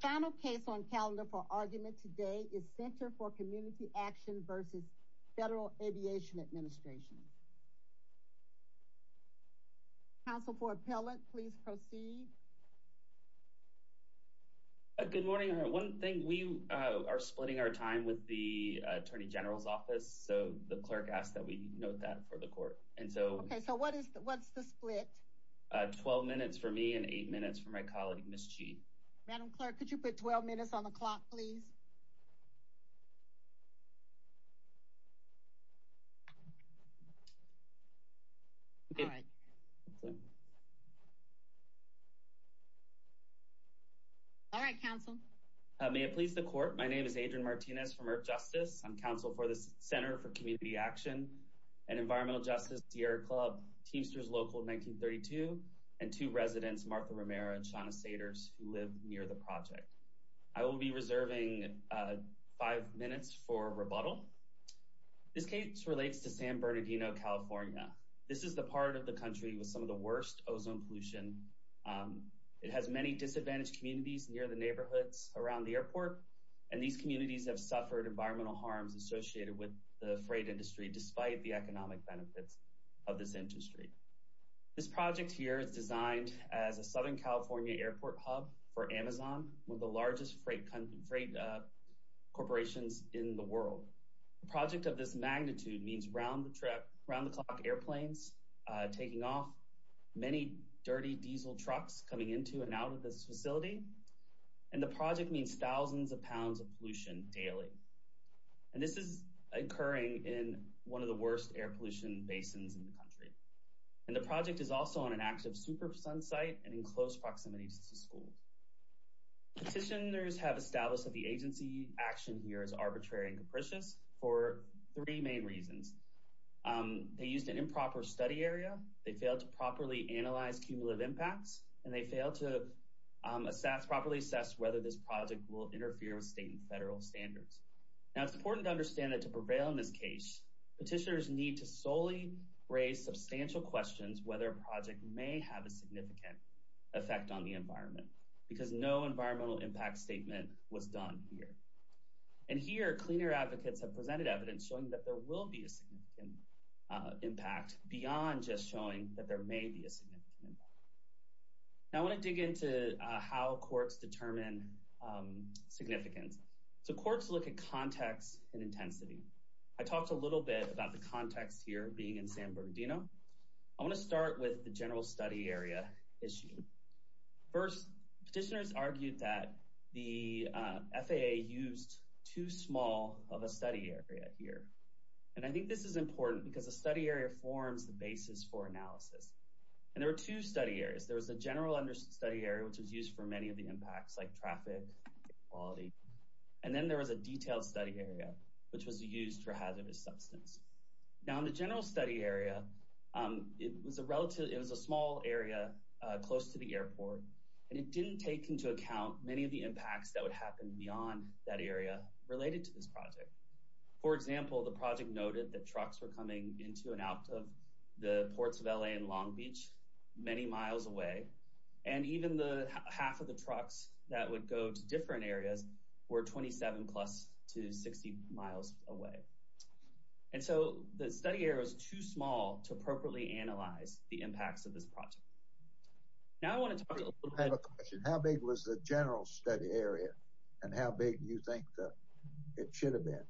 Final case on calendar for argument today is Center for Community Action v. Federal Aviation Administration. Counsel for appellant please proceed. Good morning. One thing we are splitting our time with the Attorney General's office so the clerk asked that we note that for the court. And so okay so what is what's the split? 12 minutes for me and eight minutes for my colleague Ms. Chi. Madam clerk could you put 12 minutes on the clock please? All right counsel. May it please the court my name is Adrian Martinez from Earth Justice. I'm counsel for the Center for Community Action and Environmental Justice Sierra Club Teamsters Local 1932 and two residents Martha Romero and Shauna Saters who live near the project. I will be reserving five minutes for rebuttal. This case relates to San Bernardino California. This is the part of the country with some of the worst ozone pollution. It has many disadvantaged communities near the neighborhoods around the airport and these communities have suffered environmental harms associated with the freight industry despite the economic benefits of this industry. This project here is designed as a Southern California airport hub for Amazon, one of the largest freight corporations in the world. The project of this magnitude means round the clock airplanes taking off, many dirty diesel trucks coming into and out of this facility, and the project means thousands of pounds of pollution daily. And this is occurring in one of the worst air pollution basins in the country. And the project is also on an active super sun site and in close proximity to schools. Petitioners have established that the agency action here is arbitrary and capricious for three main reasons. They used an improper study area, they failed to properly analyze cumulative impacts, and they failed to assess properly assess whether this project will interfere with state and federal standards. Now it's important to understand that to prevail in this case, petitioners need to solely raise substantial questions whether a project may have a significant effect on the environment because no environmental impact statement was done here. And here, cleaner advocates have presented evidence showing that there will be a significant impact beyond just showing that there may be a significant impact. Now I want to dig into how courts determine significance. So courts look at context and intensity. I talked a little bit about the context here being in San Bernardino. I want to start with the general study area issue. First, petitioners argued that the FAA used too small of a study area here. And I think this is important because a study area forms the basis for analysis. And there were two study areas. There was a general study area, which was used for many of the impacts like traffic quality, and then there was a detailed study area, which was used for hazardous substance. Now in the general study area, it was a small area close to the airport, and it didn't take into account many of the impacts that would happen beyond that area related to this project. For example, the project noted that trucks were coming into and out of the ports of L.A. and Long Beach many miles away, and even the half of the trucks that would go to different areas were 27 plus to 60 miles away. And so the study area was too small to appropriately analyze the impacts of this project. Now I want to talk a little bit about... I have a question. How big was the general study area, and how big do you think it should have been?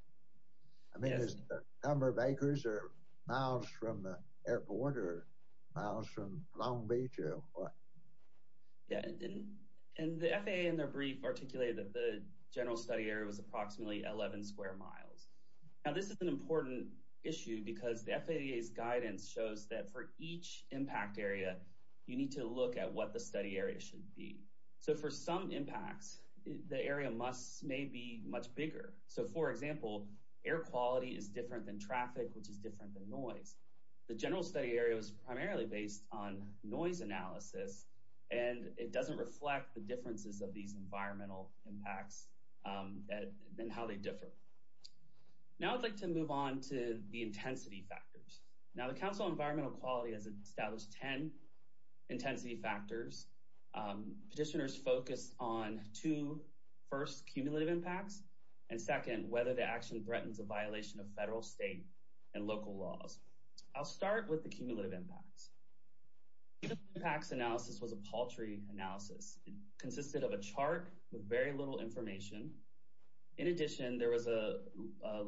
I mean, is it a number of acres or miles from the airport or miles from Long Beach or what? Yeah, and the FAA in their brief articulated that the general study area was approximately 11 square miles. Now this is an important issue because the FAA's guidance shows that for each impact area, you need to look at what the study area should be. So for some impacts, the area must may be much bigger. So for example, air quality is different than traffic, which is different than noise. The general study area is primarily based on noise analysis, and it doesn't reflect the differences of these environmental impacts and how they differ. Now I'd like to move on to the intensity factors. Now the Council on Environmental Quality has established 10 intensity factors. Petitioners focus on two. First, cumulative impacts, and second, whether the action threatens a violation of federal, state, and local laws. I'll start with the cumulative impacts. Impacts analysis was a paltry analysis. It consisted of a chart with very little information. In addition, there was a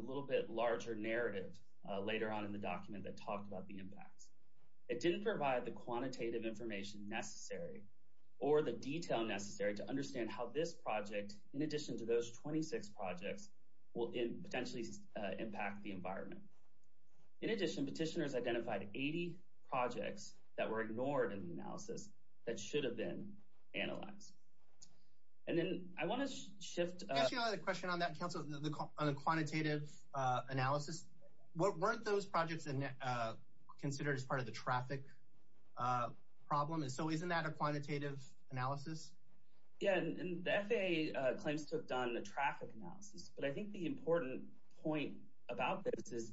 little bit larger narrative later on in the document that talked about the impacts. It didn't provide the quantitative information necessary or the detail necessary to understand how this project, in addition to those 26 projects, will potentially impact the environment. In addition, petitioners identified 80 projects that were ignored in the analysis that should have been analyzed. And then I want to shift. I actually have a question on the quantitative analysis. Weren't those projects considered as part of the traffic problem? So isn't that a quantitative analysis? Yeah, and the FAA claims to have done a traffic analysis, but I think the important point about this is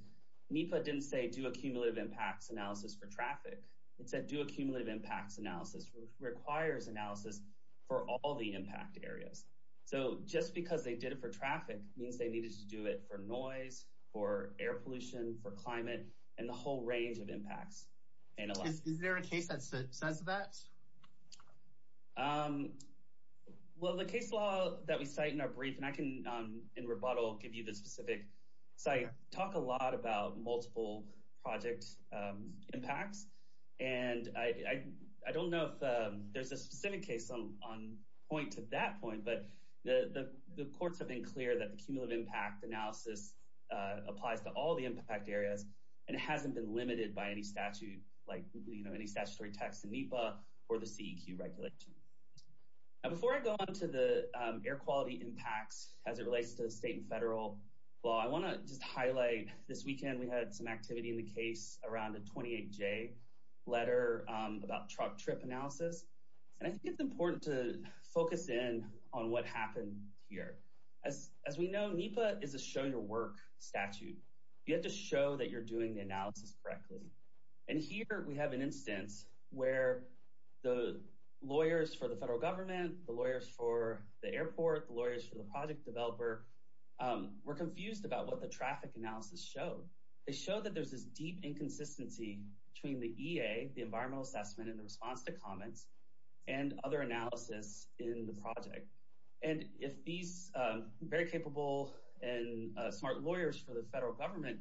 NEPA didn't say do a cumulative impacts analysis for traffic. It said do a cumulative impacts analysis, which requires analysis for all the impact areas. So just because they did it for traffic means they needed to do it for noise, for air pollution, for climate, and the whole range of impacts. Is there a case that says that? Well, the case law that we cite in our brief, and I can in rebuttal give you the specific site, talk a lot about multiple project impacts. And I don't know if there's a specific case on point to that point, but the courts have been clear that the cumulative impact analysis applies to all the impact areas, and it hasn't been limited by any statute like, you know, any statutory text in NEPA or the CEQ regulation. Now before I go on to the air quality impacts as it relates to the state and federal law, I want to just highlight this weekend we had some to focus in on what happened here. As we know, NEPA is a show your work statute. You have to show that you're doing the analysis correctly. And here we have an instance where the lawyers for the federal government, the lawyers for the airport, the lawyers for the project developer were confused about what the traffic analysis showed. They showed that there's this deep inconsistency between the EA, the environmental assessment and the response to comments, and other analysis in the project. And if these very capable and smart lawyers for the federal government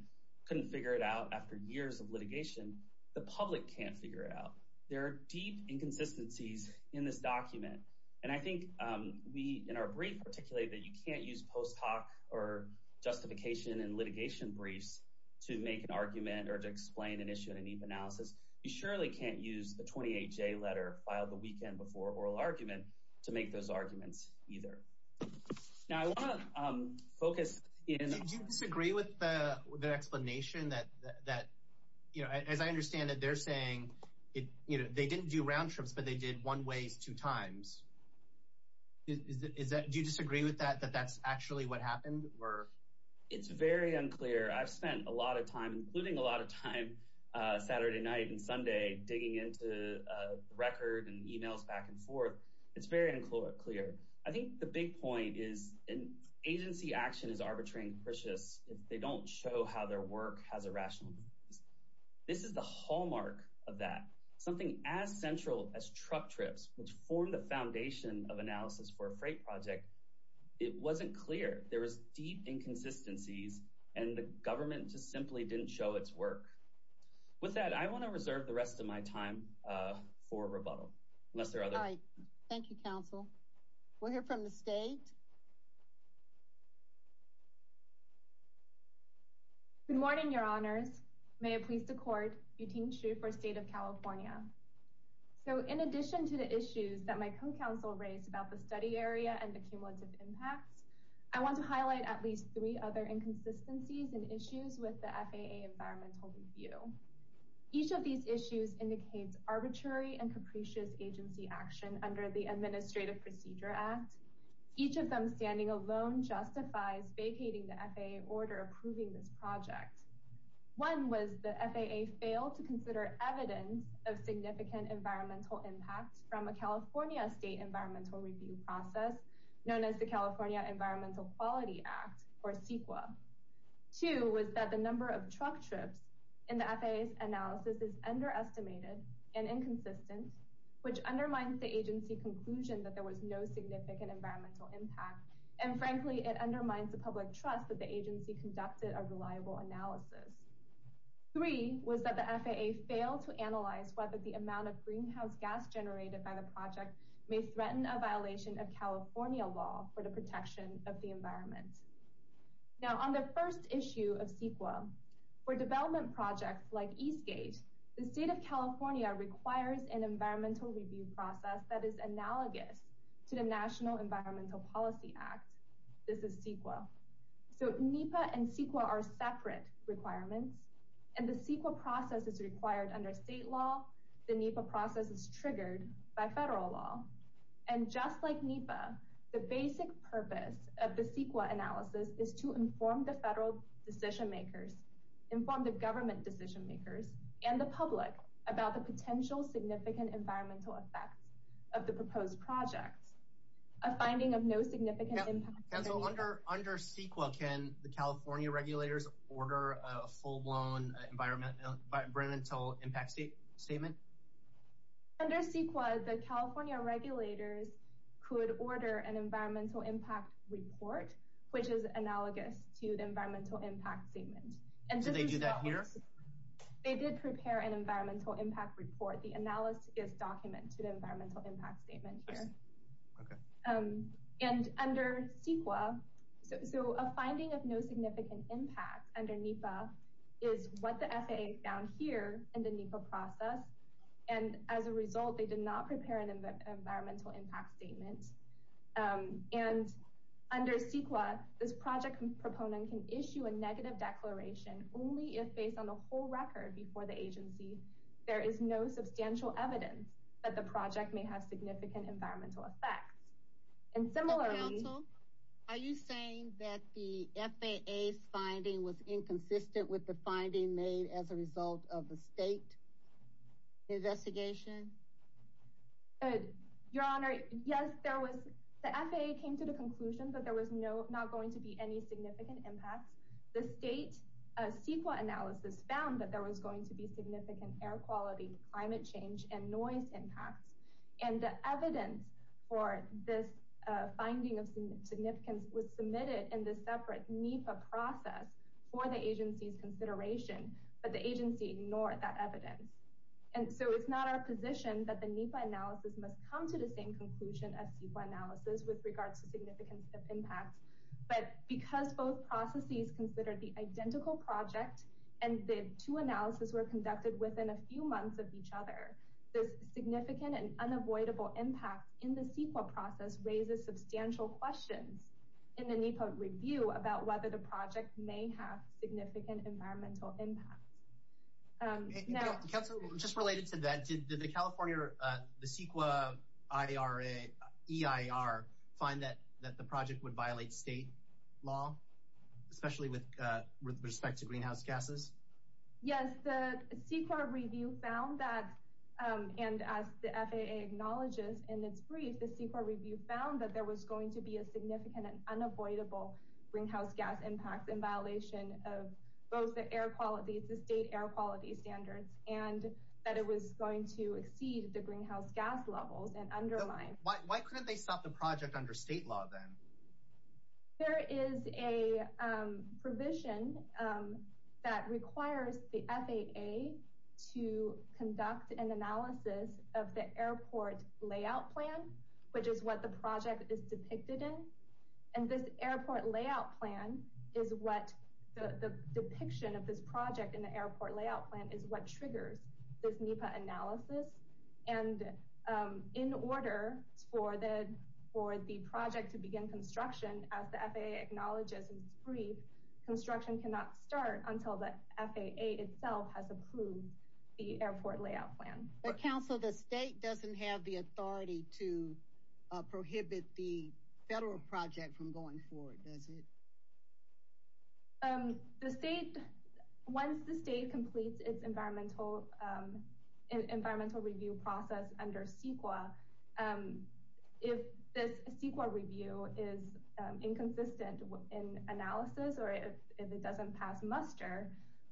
couldn't figure it out after years of litigation, the public can't figure it out. There are deep inconsistencies in this document, and I think we in our brief articulate that you can't use post hoc or justification and litigation briefs to make an argument or to explain an issue in a NEPA analysis. You surely can't use the 28-J letter filed the weekend before oral argument to make those arguments either. Now I want to focus in... Do you disagree with the explanation that, as I understand it, they're saying they didn't do round trips, but they did one ways two times. Do you disagree with that, that that's actually what happened? It's very unclear. I've spent a lot of time, including a lot of time, Saturday night and Sunday, digging into the record and emails back and forth. It's very unclear. I think the big point is an agency action is arbitrary and capricious if they don't show how their work has a rational basis. This is the hallmark of that. Something as central as truck trips, which formed the foundation of analysis for a freight project, it wasn't clear. There was deep inconsistencies and the government just simply didn't show its work. With that, I want to reserve the rest of my time for rebuttal, unless there are other... All right. Thank you, counsel. We'll hear from the state. Good morning, your honors. May it please the court, Yuting Xu for State of California. So in addition to the issues that my co-counsel raised about the study area and the cumulative impacts, I want to highlight at least three other inconsistencies and issues with the FAA environmental review. Each of these issues indicates arbitrary and capricious agency action under the Administrative Procedure Act. Each of them standing alone justifies vacating the FAA order approving this project. One was the FAA failed to consider evidence of significant environmental impact from a California state environmental review process known as the California Environmental Quality Act, or CEQA. Two was that the number of truck trips in the FAA's analysis is underestimated and inconsistent, which undermines the agency conclusion that there was no environmental impact. And frankly, it undermines the public trust that the agency conducted a reliable analysis. Three was that the FAA failed to analyze whether the amount of greenhouse gas generated by the project may threaten a violation of California law for the protection of the environment. Now, on the first issue of CEQA, for development projects like Eastgate, the State of Environmental Policy Act, this is CEQA. So NEPA and CEQA are separate requirements, and the CEQA process is required under state law. The NEPA process is triggered by federal law. And just like NEPA, the basic purpose of the CEQA analysis is to inform the federal decision makers, inform the government decision makers, and the public about the potential significant environmental effects of the proposed project. A finding of no significant impact... Council, under CEQA, can the California regulators order a full-blown environmental impact statement? Under CEQA, the California regulators could order an environmental impact report, which is analogous to the environmental impact statement. And did they do that here? They did prepare an environmental impact report. The analysis is documented in the environmental impact statement here. And under CEQA, so a finding of no significant impact under NEPA is what the FAA found here in the NEPA process. And as a result, they did not prepare an environmental impact statement. And under CEQA, this project proponent can issue a negative declaration only if, based on the whole record before the agency, there is no substantial evidence that the project may have significant environmental effects. And similarly... Council, are you saying that the FAA's finding was inconsistent with the finding made as a result of the state investigation? Your Honor, yes, the FAA came to the conclusion that there was not going to be any significant impacts. The state CEQA analysis found that there was going to be significant air quality, climate change, and noise impacts. And the evidence for this finding of significance was submitted in the separate NEPA process for the agency's consideration, but the agency ignored that evidence. And so it's not our position that the NEPA analysis must come to the same conclusion as CEQA analysis with regards to significance of impact. But because both processes considered the identical project and the two analysis were conducted within a few months of each other, this significant and unavoidable impact in the CEQA process raises substantial questions in the NEPA review about whether the project may have significant environmental impacts. Council, just related to that, did the California CEQA EIR find that the project would violate state law, especially with respect to greenhouse gases? Yes, the CEQA review found that, and as the FAA acknowledges in its brief, the CEQA review found that there was going to be a significant and unavoidable greenhouse gas impact in violation of both the air quality, the state air quality standards, and that it was going to exceed the greenhouse gas levels and undermine. Why couldn't they stop the project under state law then? There is a provision that requires the FAA to conduct an analysis of the airport layout plan, which is what the project is depicted in. And this airport layout plan is what the depiction of this project in the airport layout plan is what triggers this NEPA analysis. And in order for the project to begin construction, as the FAA acknowledges in its brief, construction cannot start until the FAA itself has approved the airport layout plan. Council, the state doesn't have the authority to prohibit the federal project from going forward, does it? Once the state completes its environmental review process under CEQA, if this CEQA review is inconsistent in analysis or if it doesn't pass muster,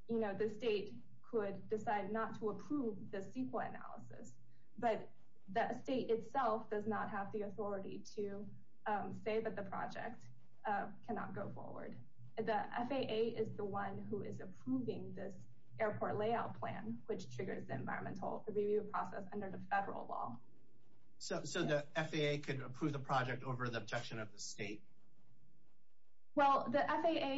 the state could decide not to approve the CEQA analysis. But the state itself does not have the authority to say that the FAA is the one who is approving this airport layout plan, which triggers the environmental review process under the federal law. So the FAA could approve the project over the objection of the state? Well, the FAA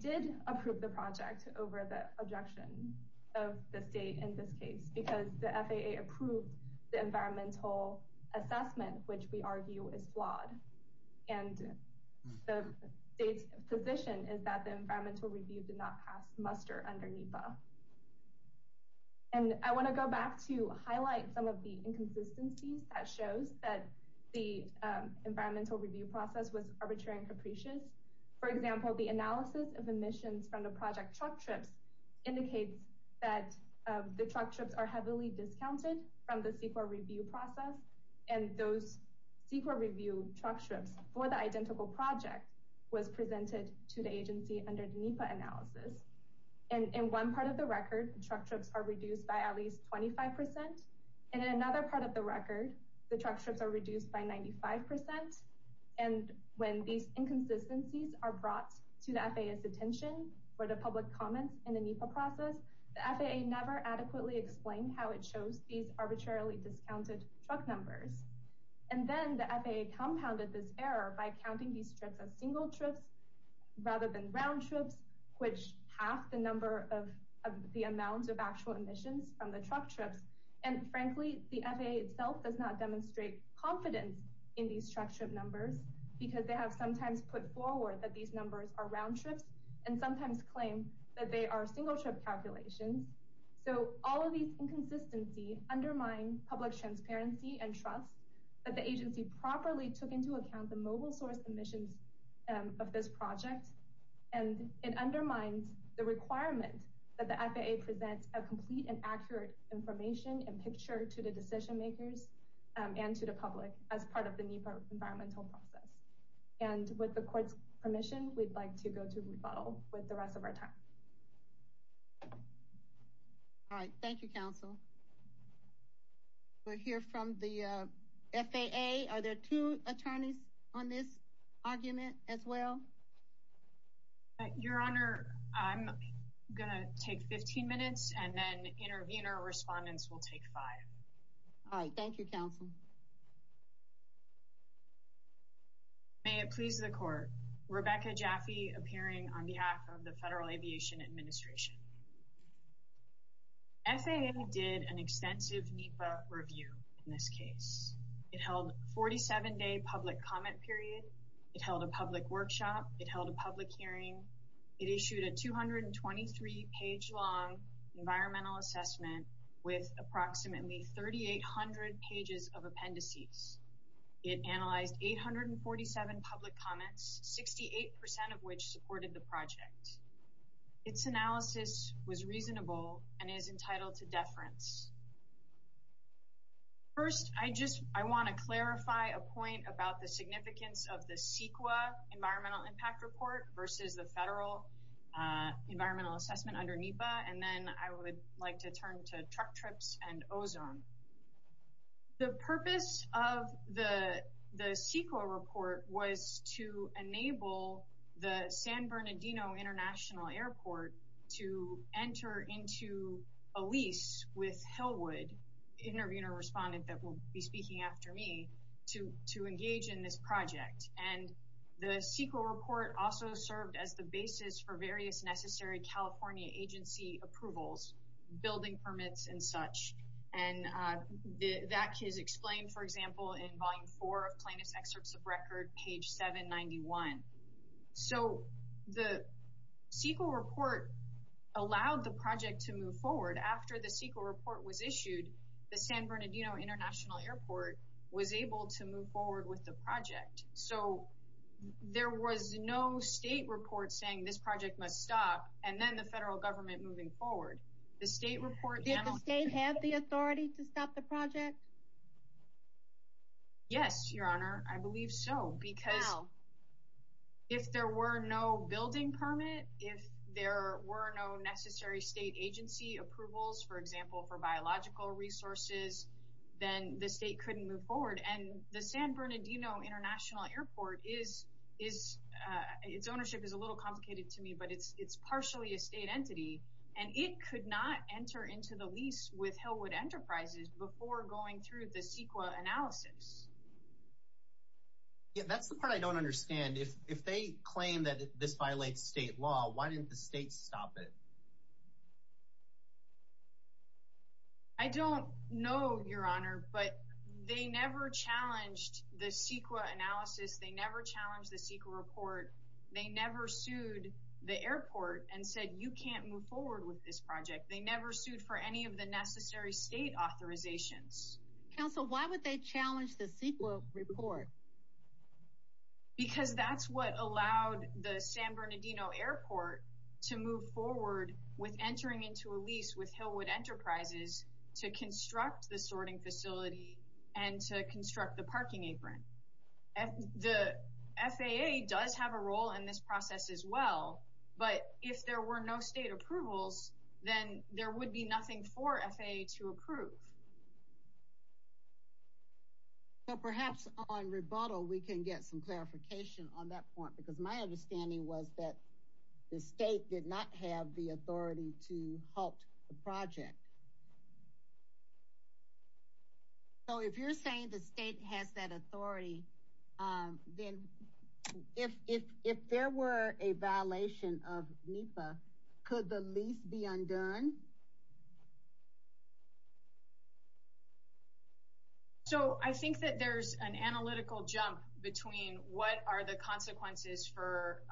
did approve the project over the objection of the state in this case, because the FAA approved the environmental assessment, which we argue is flawed. And the state's position is that the environmental review did not pass muster under NEPA. And I want to go back to highlight some of the inconsistencies that shows that the environmental review process was arbitrary and capricious. For example, the analysis of emissions from the project truck trips indicates that the truck trips are heavily discounted from the CEQA review truck trips for the identical project was presented to the agency under the NEPA analysis. And in one part of the record, the truck trips are reduced by at least 25%. And in another part of the record, the truck trips are reduced by 95%. And when these inconsistencies are brought to the FAA's attention for the public comments in the NEPA process, the FAA never adequately explained how it shows these arbitrarily discounted truck numbers. And then the FAA compounded this error by counting these trips as single trips rather than round trips, which half the number of the amount of actual emissions from the truck trips. And frankly, the FAA itself does not demonstrate confidence in these truck trip numbers because they have sometimes put forward that these numbers are round trips and sometimes claim that they are single trip calculations. So all of these inconsistency undermine public transparency and trust that the agency properly took into account the mobile source emissions of this project. And it undermines the requirement that the FAA presents a complete and accurate information and picture to the decision makers and to the public as part of the NEPA environmental process. And with the court's permission, we'd like to go to rebuttal with the rest of our time. All right. Thank you, counsel. We'll hear from the FAA. Are there two attorneys on this argument as well? Your Honor, I'm going to take 15 minutes and then intervener respondents will take five. All right. Thank you, counsel. May it please the court. Rebecca Jaffe, appearing on behalf of the Federal Aviation Administration. FAA did an extensive NEPA review in this case. It held 47-day public comment period. It held a public workshop. It held a public hearing. It issued a 223-page long environmental assessment with approximately 3,800 pages of appendices. It analyzed 847 public comments, 68 percent of which supported the project. Its analysis was reasonable and is entitled to deference. First, I want to clarify a point about the significance of the CEQA environmental impact report versus the federal environmental assessment under NEPA. And then I would like to turn to truck trips and ozone. The purpose of the CEQA report was to enable the San Bernardino International Airport to enter into a lease with Hillwood, the intervener respondent that will be speaking after me, to engage in this project. And the CEQA report also served as the basis for various necessary California agency approvals, building permits and such. And that is explained, for example, in volume four of plaintiff's excerpts of record, page 791. So the CEQA report allowed the project to move forward. After the CEQA report was issued, the San Bernardino International Airport was able to move forward with the project. So there was no state report saying this project must stop and then the federal government moving forward. Did the state have the authority to stop the project? Yes, Your Honor, I believe so. Because if there were no building permit, if there were no necessary state agency approvals, for example, for biological resources, then the state couldn't move forward. And the San Bernardino International Airport, its ownership is a little complicated to me, but it's partially a state entity. And it could not enter into the lease with Hillwood Enterprises before going through the CEQA analysis. Yeah, that's the part I don't understand. If they claim that this violates state law, why didn't the state stop it? I don't know, Your Honor, but they never challenged the CEQA analysis. They never challenged the CEQA report. They never sued the airport and said you can't move forward with this project. They never sued for any of the necessary state authorizations. Counsel, why would they challenge the CEQA report? Because that's what allowed the San Bernardino Airport to move forward with entering into a lease with Hillwood Enterprises to construct the sorting facility and to construct the parking apron. The FAA does have a role in this process as well, but if there were no state approvals, then there would be nothing for FAA to approve. So perhaps on rebuttal, we can get some clarification on that point, because my understanding was that the state did not have the authority to halt the project. So if you're saying the state has that authority, then if there were a violation of NEPA, could the lease be undone? So I think that there's an analytical jump between what are the consequences for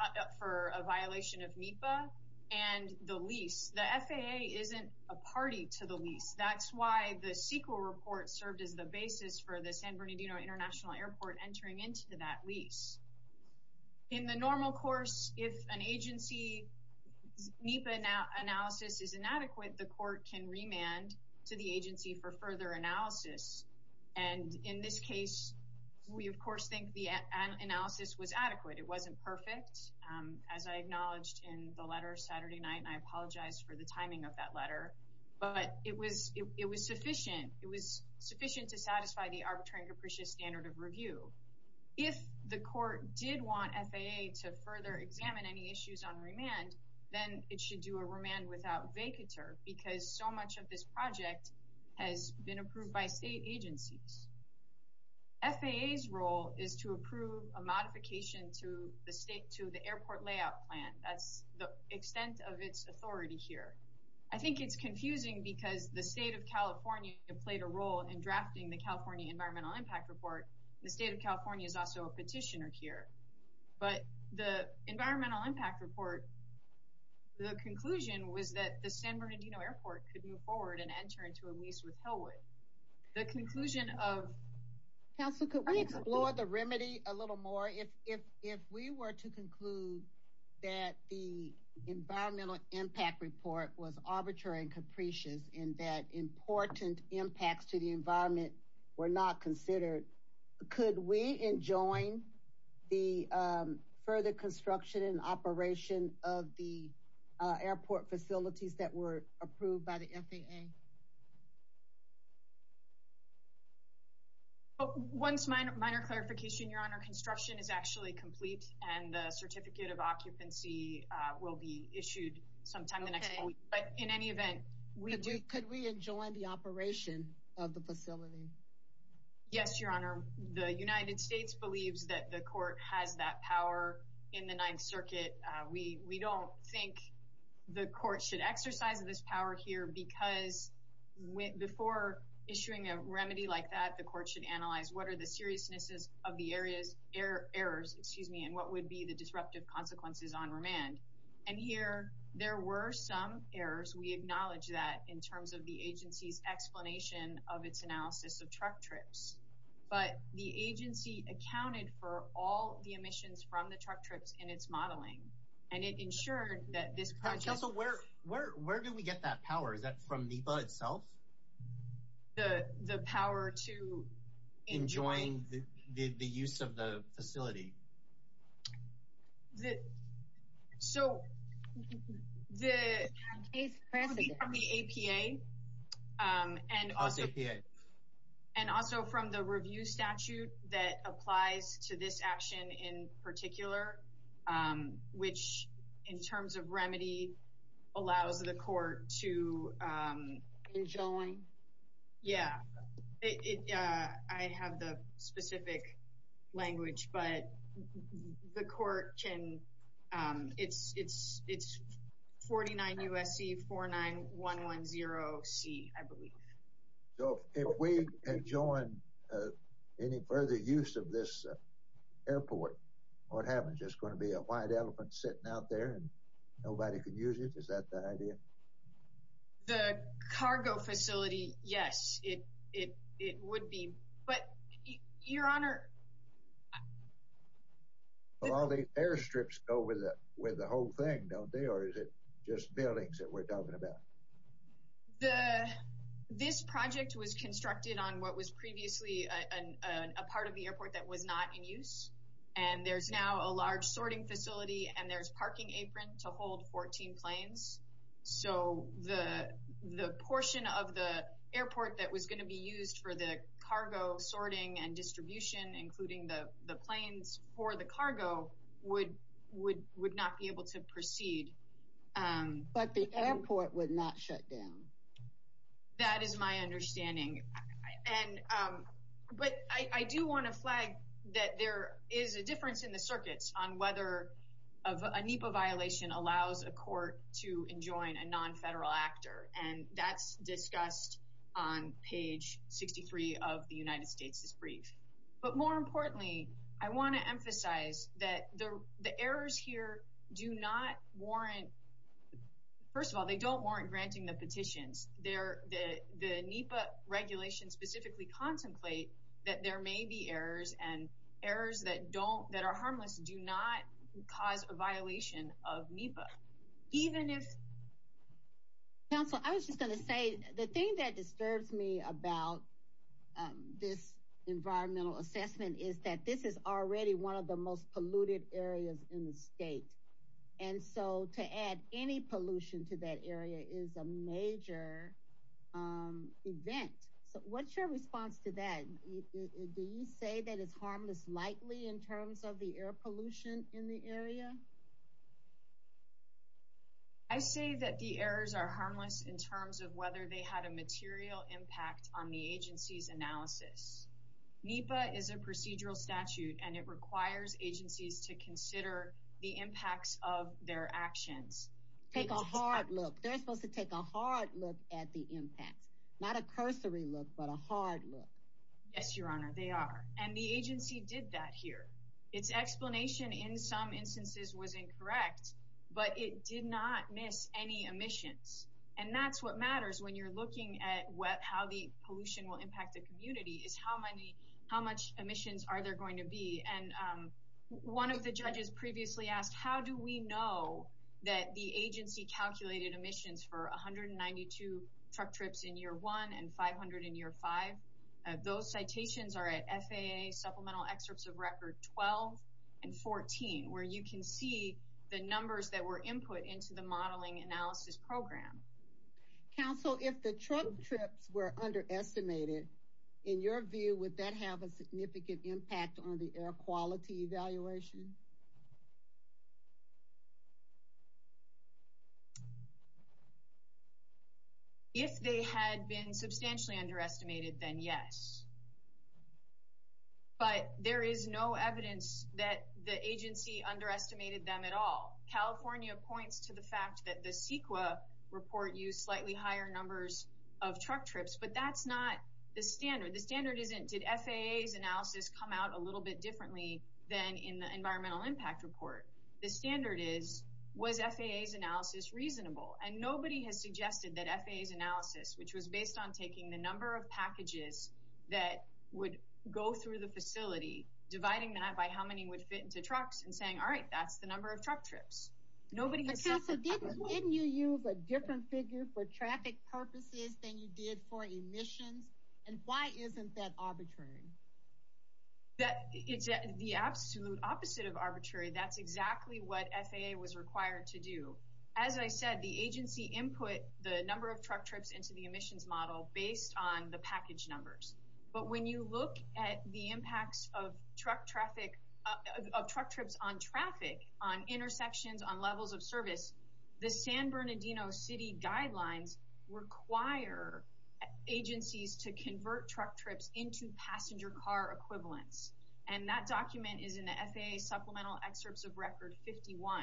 a violation of NEPA and the lease. The FAA isn't a party to the lease. That's why the CEQA report served as the basis for the San Bernardino International Airport entering into that lease. In the normal course, if an agency's NEPA analysis is inadequate, the court can remand to the agency for further analysis. And in this case, we, of course, think the analysis was adequate. It wasn't perfect, as I acknowledged in the letter Saturday night, and I apologize for the timing of that letter. But it was sufficient. It was sufficient to satisfy the arbitrary and the court did want FAA to further examine any issues on remand, then it should do a remand without vacatur, because so much of this project has been approved by state agencies. FAA's role is to approve a modification to the airport layout plan. That's the extent of its authority here. I think it's confusing because the state of California played a role in drafting the California environmental impact report. The state of California is also a petitioner here. But the environmental impact report, the conclusion was that the San Bernardino Airport could move forward and enter into a lease with Hellwood. The conclusion of... Council, could we explore the remedy a little more? If we were to conclude that the environmental impact report was arbitrary and capricious, and that important impacts to the environment were not considered, could we enjoin the further construction and operation of the airport facilities that were approved by the FAA? Once minor clarification, Your Honor, construction is actually complete, and the certificate of occupancy will be issued sometime in the next week. But in any event... Could we enjoin the operation of the facility? Yes, Your Honor. The United States believes that the court has that power in the Ninth Circuit. We don't think the court should exercise this power here, because before issuing a remedy like that, the court should analyze what are the seriousness of the area's errors, excuse me, and what would be the disruptive consequences on remand. And here, there were some errors. We acknowledge that in terms of the agency's explanation of its analysis of truck trips. But the agency accounted for all the emissions from the truck trips in its modeling, and it ensured that this project... Council, where do we get that power? Is that from NEPA itself? The power to enjoin the use of the facility? So, it could be from the APA, and also from the review statute that applies to this action in particular, which in terms of remedy, allows the court to... Enjoin? Yeah. I have the specific language, but the court can... It's 49 USC 49110C, I believe. So, if we enjoin any further use of this airport, what happens? Just going to be a white elephant sitting out there, and nobody can use it? Is that the idea? The cargo facility, yes, it would be. But, Your Honor... All these airstrips go with the whole thing, don't they? Or is it just buildings that we're talking about? The... This project was constructed on what was previously a part of the airport that was not in use. And there's now a large sorting facility, and there's parking apron to hold 14 planes. So, the portion of the airport that was going to be used for the cargo sorting and distribution, including the planes for the cargo, would not be able to proceed. But the airport would not shut down. That is my understanding. But I do want to flag that there is a difference in the circuits on whether a NEPA violation allows a court to enjoin a non-federal actor. And that's discussed on page 63 of the United States' brief. But more importantly, I want to emphasize that the errors here do not warrant... First of all, they don't warrant granting the petitions. The NEPA regulations specifically contemplate that there may be errors, and errors that are harmless do not cause a violation of NEPA. Even if... Counsel, I was just going to say, the thing that disturbs me about this environmental assessment is that this is already one of the most polluted areas in the state. And so, to add any pollution to that area is a major event. So, what's your response to that? Do you say that it's harmless likely in terms of the air pollution in the area? I say that the errors are harmless in terms of whether they had a material impact on the agency's analysis. NEPA is a procedural statute, and it requires agencies to consider the impacts of their actions. Take a hard look. They're supposed to take a hard look at the impact. Not a cursory look, but a hard look. Yes, Your Honor, they are. And the agency did that here. Its explanation in some instances was incorrect, but it did not miss any emissions. And that's what matters when you're looking at how the pollution will impact the community, is how much emissions are there going to be. And one of the judges previously asked, how do we know that the agency calculated emissions for 192 truck trips in year one and 500 in year five? Those citations are at FAA Supplemental Excerpts of Record 12 and 14, where you can see the numbers that were input into the modeling analysis program. Counsel, if the truck trips were underestimated, in your view, would that have a significant impact on the air quality evaluation? If they had been substantially underestimated, then yes. But there is no evidence that the agency underestimated them at all. California points to the fact that the CEQA report used slightly higher numbers of truck trips, but that's not the standard. The standard isn't, did FAA's analysis come out a little bit differently than in the environmental impact report? The standard is, was FAA's analysis reasonable? And nobody has suggested that FAA's analysis, which was based on taking the number of packages that would go through the facility, dividing that by how many would fit into trucks and saying, all right, that's the number of truck trips. Nobody has said that. Didn't you use a different figure for traffic purposes than you did for emissions? And why isn't that arbitrary? That, it's the absolute opposite of arbitrary. That's exactly what FAA was required to do. As I said, the agency input the number of truck trips into the emissions model based on the package numbers. But when you look at the impacts of truck traffic, of truck trips on traffic, on intersections, on levels of service, the San Bernardino City guidelines require agencies to convert truck trips into passenger car equivalents. And that document is in the FAA Supplemental Excerpts of Record 51.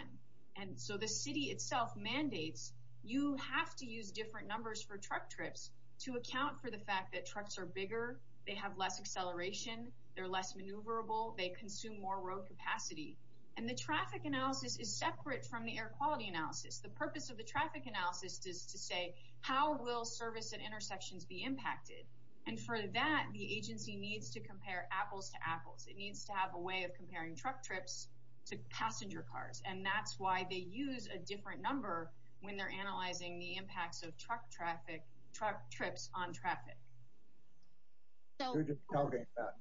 And so the city itself mandates you have to use different numbers for truck trips to account for the fact that trucks are bigger, they have less acceleration, they're less maneuverable, they consume more road capacity. And the traffic analysis is separate from the air quality analysis. The purpose of the traffic analysis is to say, how will service at intersections be impacted? And for that, the agency needs to compare apples to apples. It needs to have a way of comparing truck trips to passenger cars. And that's why they use a different number when they're analyzing the impacts of truck traffic, truck trips on traffic. So we're just talking about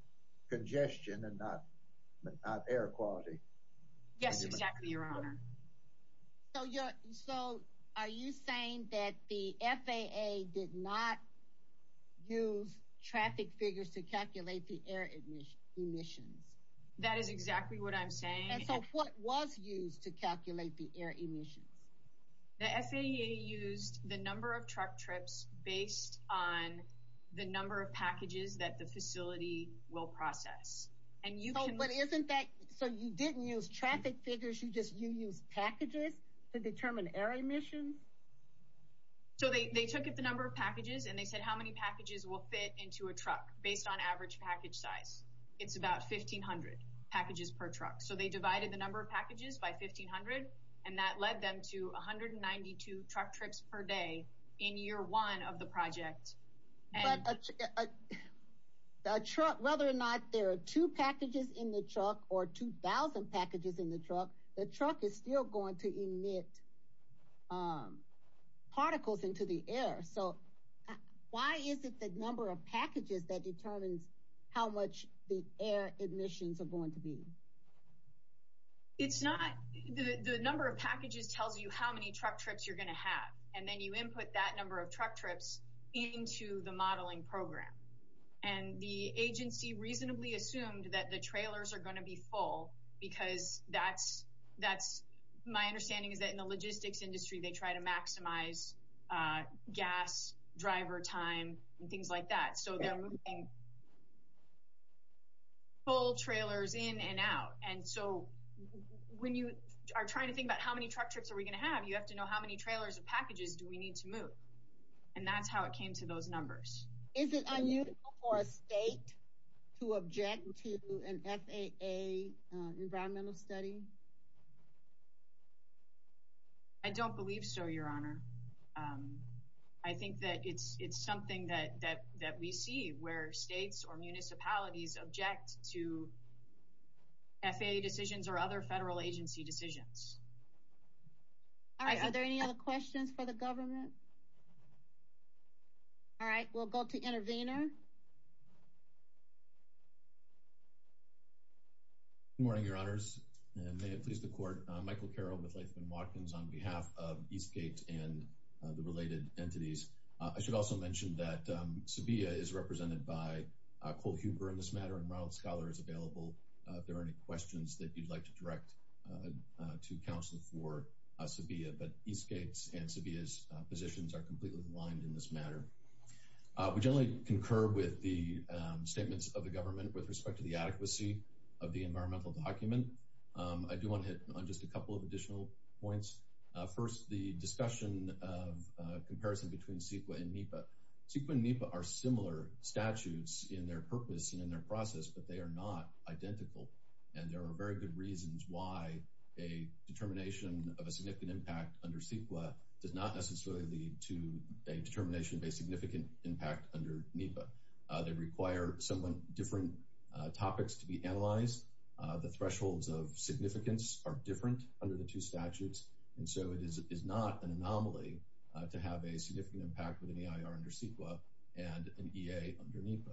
congestion and not air quality. Yes, exactly, Your Honor. So are you saying that the FAA did not use traffic figures to calculate the air emissions? That is exactly what I'm saying. And so what was used to calculate the air emissions? The FAA used the number of truck trips based on the number of packages that the facility will process. And you can... But isn't that... So you didn't use traffic figures, you used packages to determine air emissions? So they took the number of packages and they said how many packages will fit into a truck based on average package size. It's about 1,500 packages per truck. So they divided the number of packages by 1,500, and that led them to 192 truck trips per day in year one of the project. But whether or not there are two packages in the truck or 2,000 packages in the truck, the truck is still going to emit particles into the air. So why is it the number of packages that determines how much the air emissions are going to be? It's not... The number of packages tells you how many truck trips you're going to have. And then you input that number of truck trips into the modeling program. And the agency reasonably assumed that the trailers are going to be full because that's... My understanding is that in the logistics industry, they try to maximize gas driver time and things like that. So they're moving full trailers in and out. And so when you are trying to think about how many truck trips are we going to have, you have to know how many trailers of packages do we need to move. And that's how it came to those numbers. Is it unusual for a state to object to an FAA environmental study? I don't believe so, Your Honor. I think that it's something that we see where states or municipalities object to FAA decisions or other federal agency decisions. All right. Are there any other questions for the government? All right. We'll go to Intervenor. Good morning, Your Honors. And may it please the Court. Michael Carroll with Latham & Watkins on behalf of Eastgate and the related entities. I should also mention that Sabia is represented by Cole Huber in this matter, and Ronald Scholar is available. If there are any questions that you'd like to direct to counsel for Sabia. But Eastgate's and Sabia's positions are completely aligned in this matter. We generally concur with the statements of the government with respect to the adequacy of the environmental document. I do want to hit on just a couple of additional points. First, the discussion of comparison between CEQA and NEPA. CEQA and NEPA are similar statutes in their purpose and in their process, but they are not identical. And there are very good reasons why a determination of a significant impact under CEQA does not necessarily lead to a determination of a significant impact under NEPA. They require somewhat different topics to be analyzed. The thresholds of significance are different under the two statutes. And so it is not an anomaly to have a significant impact with an EIR under CEQA and an EA under NEPA.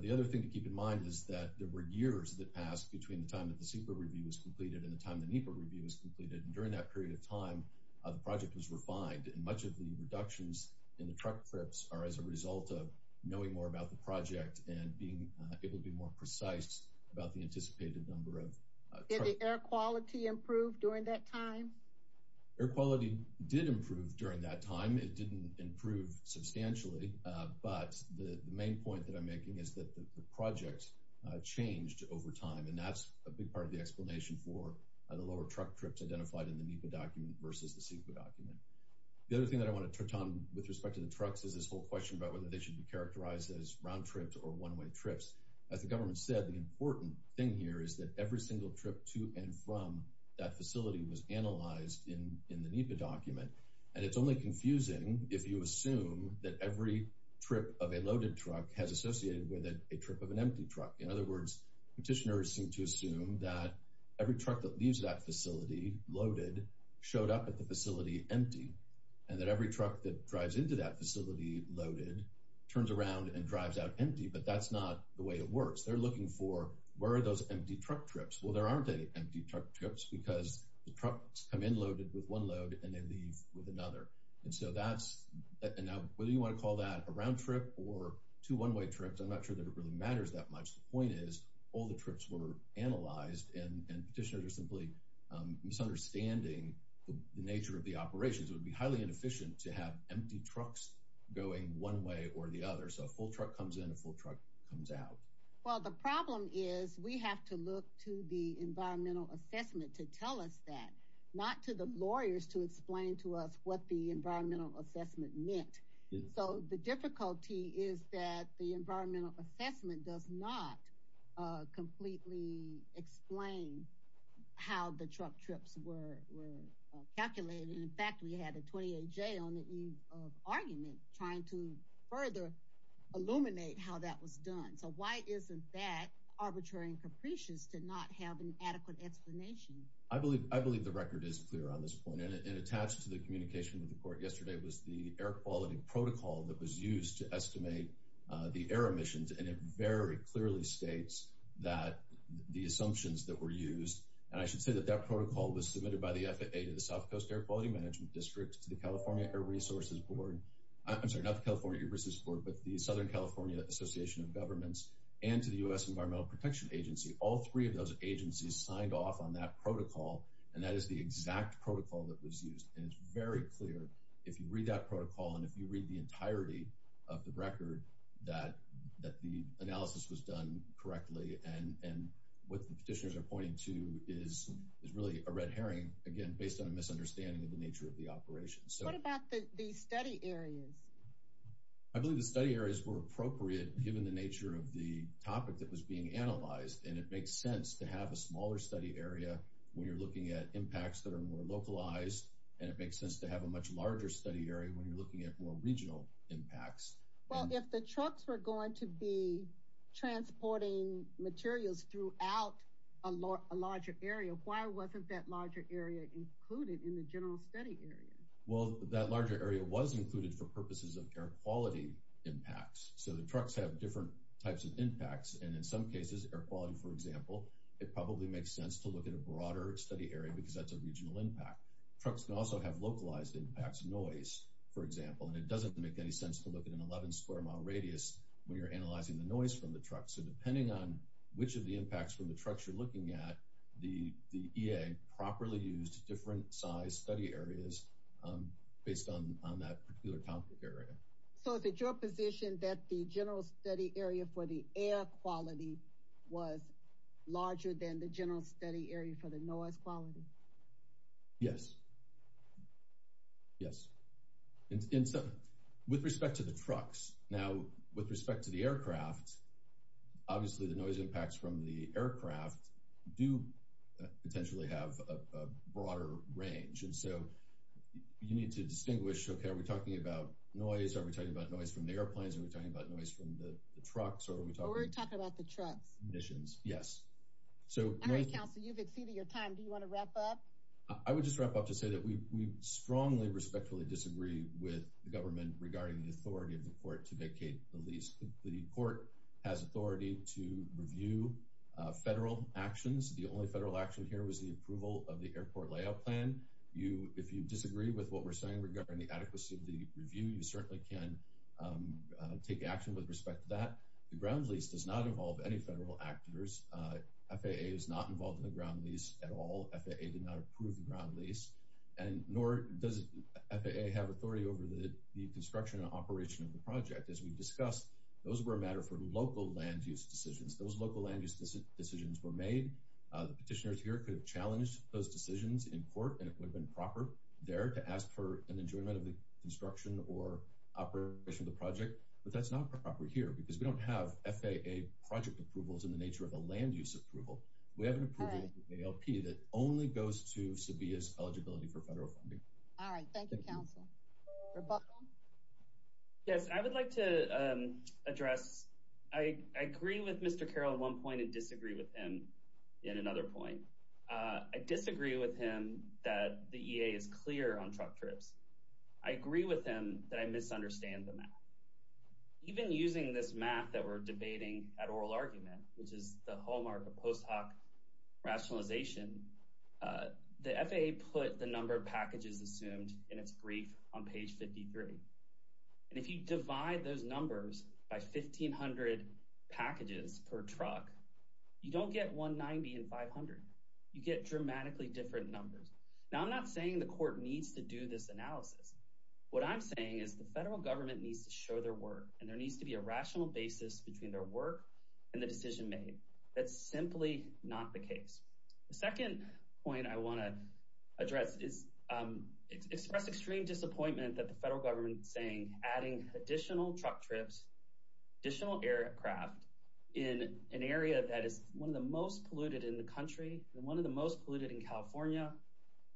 The other thing to keep in mind is that there were years that passed between the time that the CEQA review was completed and the time the NEPA review was completed. And during that period of time, the project was refined. And much of the reductions in the truck trips are as a result of knowing more about the project and being able to be more precise about the anticipated number of trucks. Did the air quality improve during that time? Air quality did improve during that time. It didn't improve substantially. But the main point that I'm making is that the project changed over time. And that's a big part of the explanation for the lower truck trips identified in the NEPA document versus the CEQA document. The other thing that I want to touch on with respect to the trucks is this whole question about whether they should be characterized as round trips or one-way trips. As the government said, the important thing here is that every single trip to and from that facility was analyzed in the NEPA document. And it's only confusing if you assume that every trip of a loaded truck has associated with a trip of an empty truck. In other words, petitioners seem to assume that every truck that leaves that facility loaded showed up at the facility empty and that every truck that drives into that facility loaded turns around and drives out empty. But that's not the way it works. They're looking for, where are those empty truck trips? Well, there aren't any empty truck trips because the trucks come in loaded with one load and they leave with another. And so that's, and now whether you want to call that a round trip or two one-way trips, I'm not sure that it really matters that much. The point is all the trips were analyzed and petitioners are simply misunderstanding the nature of the operations. It would be highly inefficient to have empty trucks going one way or the other. So a full truck comes in, a full truck comes out. Well, the problem is we have to look to the environmental assessment to tell us that, not to the lawyers to explain to us what the environmental assessment meant. So the difficulty is that the environmental assessment does not completely explain how the truck trips were calculated. In fact, we had a 28-J on the eve of argument trying to further illuminate how that was done. So why isn't that arbitrary and capricious to not have an adequate explanation? I believe the record is clear on this point. And attached to the communication with the court yesterday was the air quality protocol that was used to estimate the air emissions. And it very clearly states that the assumptions that were used, and I should say that that protocol was submitted by the FAA to the South Coast Air Quality Management District, to the California Air Resources Board. I'm sorry, not the California Air Resources Board, but the Southern California Association of Governments and to the U.S. Environmental Protection Agency. All three of those agencies signed off on that protocol, and that is the exact protocol that was used. And it's very clear, if you read that protocol and if you read the entirety of the record, that the analysis was done correctly. And what the petitioners are pointing to is really a red herring, again, based on a misunderstanding of the nature of the operation. What about the study areas? I believe the study areas were appropriate given the nature of the topic that was being analyzed, and it makes sense to have a smaller study area when you're looking at impacts that are more localized. And it makes sense to have a much larger study area when you're looking at more regional impacts. Well, if the trucks were going to be transporting materials throughout a larger area, why wasn't that larger area included in the general study area? Well, that larger area was included for purposes of air quality impacts. So the trucks have different types of impacts, and in some cases, air quality, for example, it probably makes sense to look at a broader study area because that's a regional impact. Trucks can also have localized impacts, noise, for example, and it doesn't make any sense to look at an 11 square mile radius when you're analyzing the noise from the truck. So depending on which of the impacts from the trucks you're looking at, the EA properly used different size study areas based on that particular topic area. So is it your position that the general study area for the air quality was larger than the general study area for the noise quality? Yes. Yes. With respect to the trucks. Now, with respect to the aircraft, obviously, the noise impacts from the aircraft do potentially have a broader range. So you need to distinguish, okay, are we talking about noise? Are we talking about noise from the airplanes? Are we talking about noise from the trucks? Or are we talking- We're talking about the trucks. Missions. Yes. So- Council, you've exceeded your time. Do you want to wrap up? I would just wrap up to say that we strongly, respectfully disagree with the government regarding the authority of the court to vacate the lease. The court has authority to review federal actions. The only federal action here was the approval of the airport layout plan. If you disagree with what we're saying regarding the adequacy of the review, you certainly can take action with respect to that. The ground lease does not involve any federal actors. FAA is not involved in the ground lease at all. FAA did not approve the ground lease. And nor does FAA have authority over the construction and operation of the project. As we've discussed, those were a matter for local land use decisions. Those local land use decisions were made. The petitioners here could have challenged those decisions in court, and it would have been proper there to ask for an enjoyment of the construction or operation of the project. But that's not proper here. Because we don't have FAA project approvals in the nature of a land use approval. We have an approval in the ALP that only goes to SEBIA's eligibility for federal funding. All right. Thank you, Council. Rebuttal? Yes. I would like to address- I agree with Mr. Carroll at one point and disagree with him. In another point, I disagree with him that the EA is clear on truck trips. I agree with him that I misunderstand the math. Even using this math that we're debating at oral argument, which is the hallmark of post-hoc rationalization, the FAA put the number of packages assumed in its brief on page 53. And if you divide those numbers by 1,500 packages per truck, you don't get 190 and 500. You get dramatically different numbers. Now, I'm not saying the court needs to do this analysis. What I'm saying is the federal government needs to show their work, and there needs to be a rational basis between their work and the decision made. That's simply not the case. The second point I want to address is- adding additional truck trips, additional aircraft in an area that is one of the most polluted in the country and one of the most polluted in California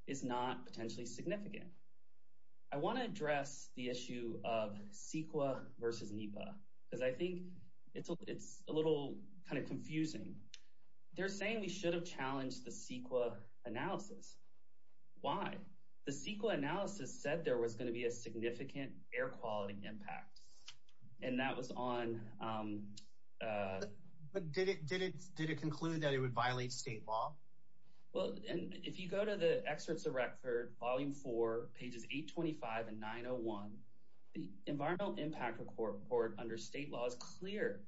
is not potentially significant. I want to address the issue of CEQA versus NEPA because I think it's a little kind of confusing. They're saying we should have challenged the CEQA analysis. Why? The CEQA analysis said there was going to be a significant air quality impact, and that was on- But did it conclude that it would violate state law? Well, if you go to the excerpts of record, volume four, pages 825 and 901, the environmental impact report under state law is clear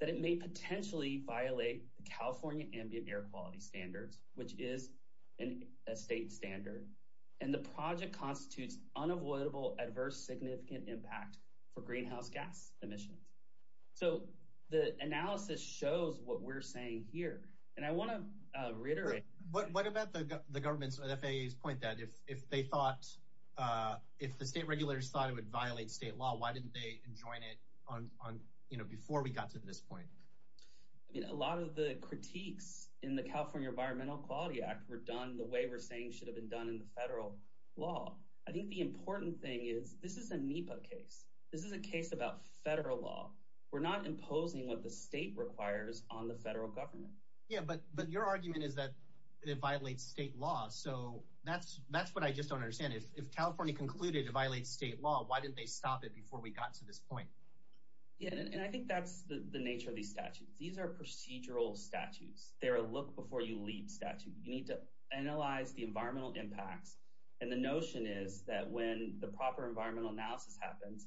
that it may potentially violate the California ambient air quality standards, which is a state standard. And the project constitutes unavoidable, adverse, significant impact for greenhouse gas emissions. So the analysis shows what we're saying here. And I want to reiterate- What about the government's- the FAA's point that if they thought- if the state regulators thought it would violate state law, why didn't they join it on- before we got to this point? I mean, a lot of the critiques in the California Environmental Quality Act were done the way we're saying should have been done in the federal law. I think the important thing is this is a NEPA case. This is a case about federal law. We're not imposing what the state requires on the federal government. Yeah, but your argument is that it violates state law. So that's what I just don't understand. If California concluded it violates state law, why didn't they stop it before we got to this point? Yeah, and I think that's the nature of these statutes. These are procedural statutes. They're a look before you leave statute. You need to analyze the environmental impacts. And the notion is that when the proper environmental analysis happens,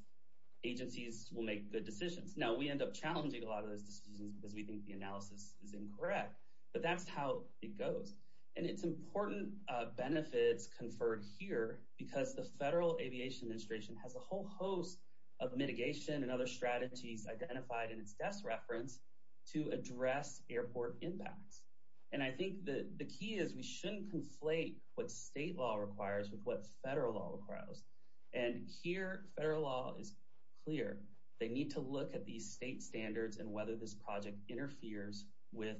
agencies will make good decisions. Now, we end up challenging a lot of those decisions because we think the analysis is incorrect. But that's how it goes. And it's important benefits conferred here because the Federal Aviation Administration has a whole host of mitigation and other strategies identified in its desk reference to address airport impacts. And I think the key is we shouldn't conflate what state law requires with what federal law requires. And here, federal law is clear. They need to look at these state standards and whether this project interferes with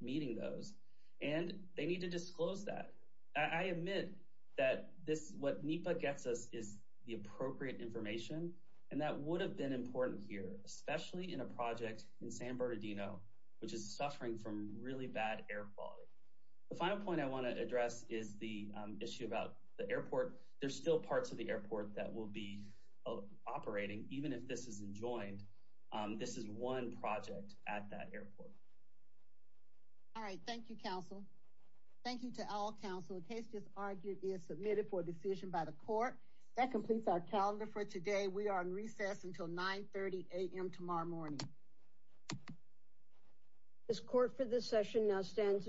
meeting those. And they need to disclose that. I admit that this is what NEPA gets us is the appropriate information. And that would have been important here, especially in a project in San Bernardino, which is suffering from really bad air quality. The final point I want to address is the issue about the airport. There's still parts of the airport that will be operating. Even if this is enjoined, this is one project at that airport. All right. Thank you, counsel. Thank you to all counsel. A case just argued is submitted for decision by the court. That completes our calendar for today. We are in recess until 9 30 a.m. tomorrow morning. This court for this session now stands adjourned.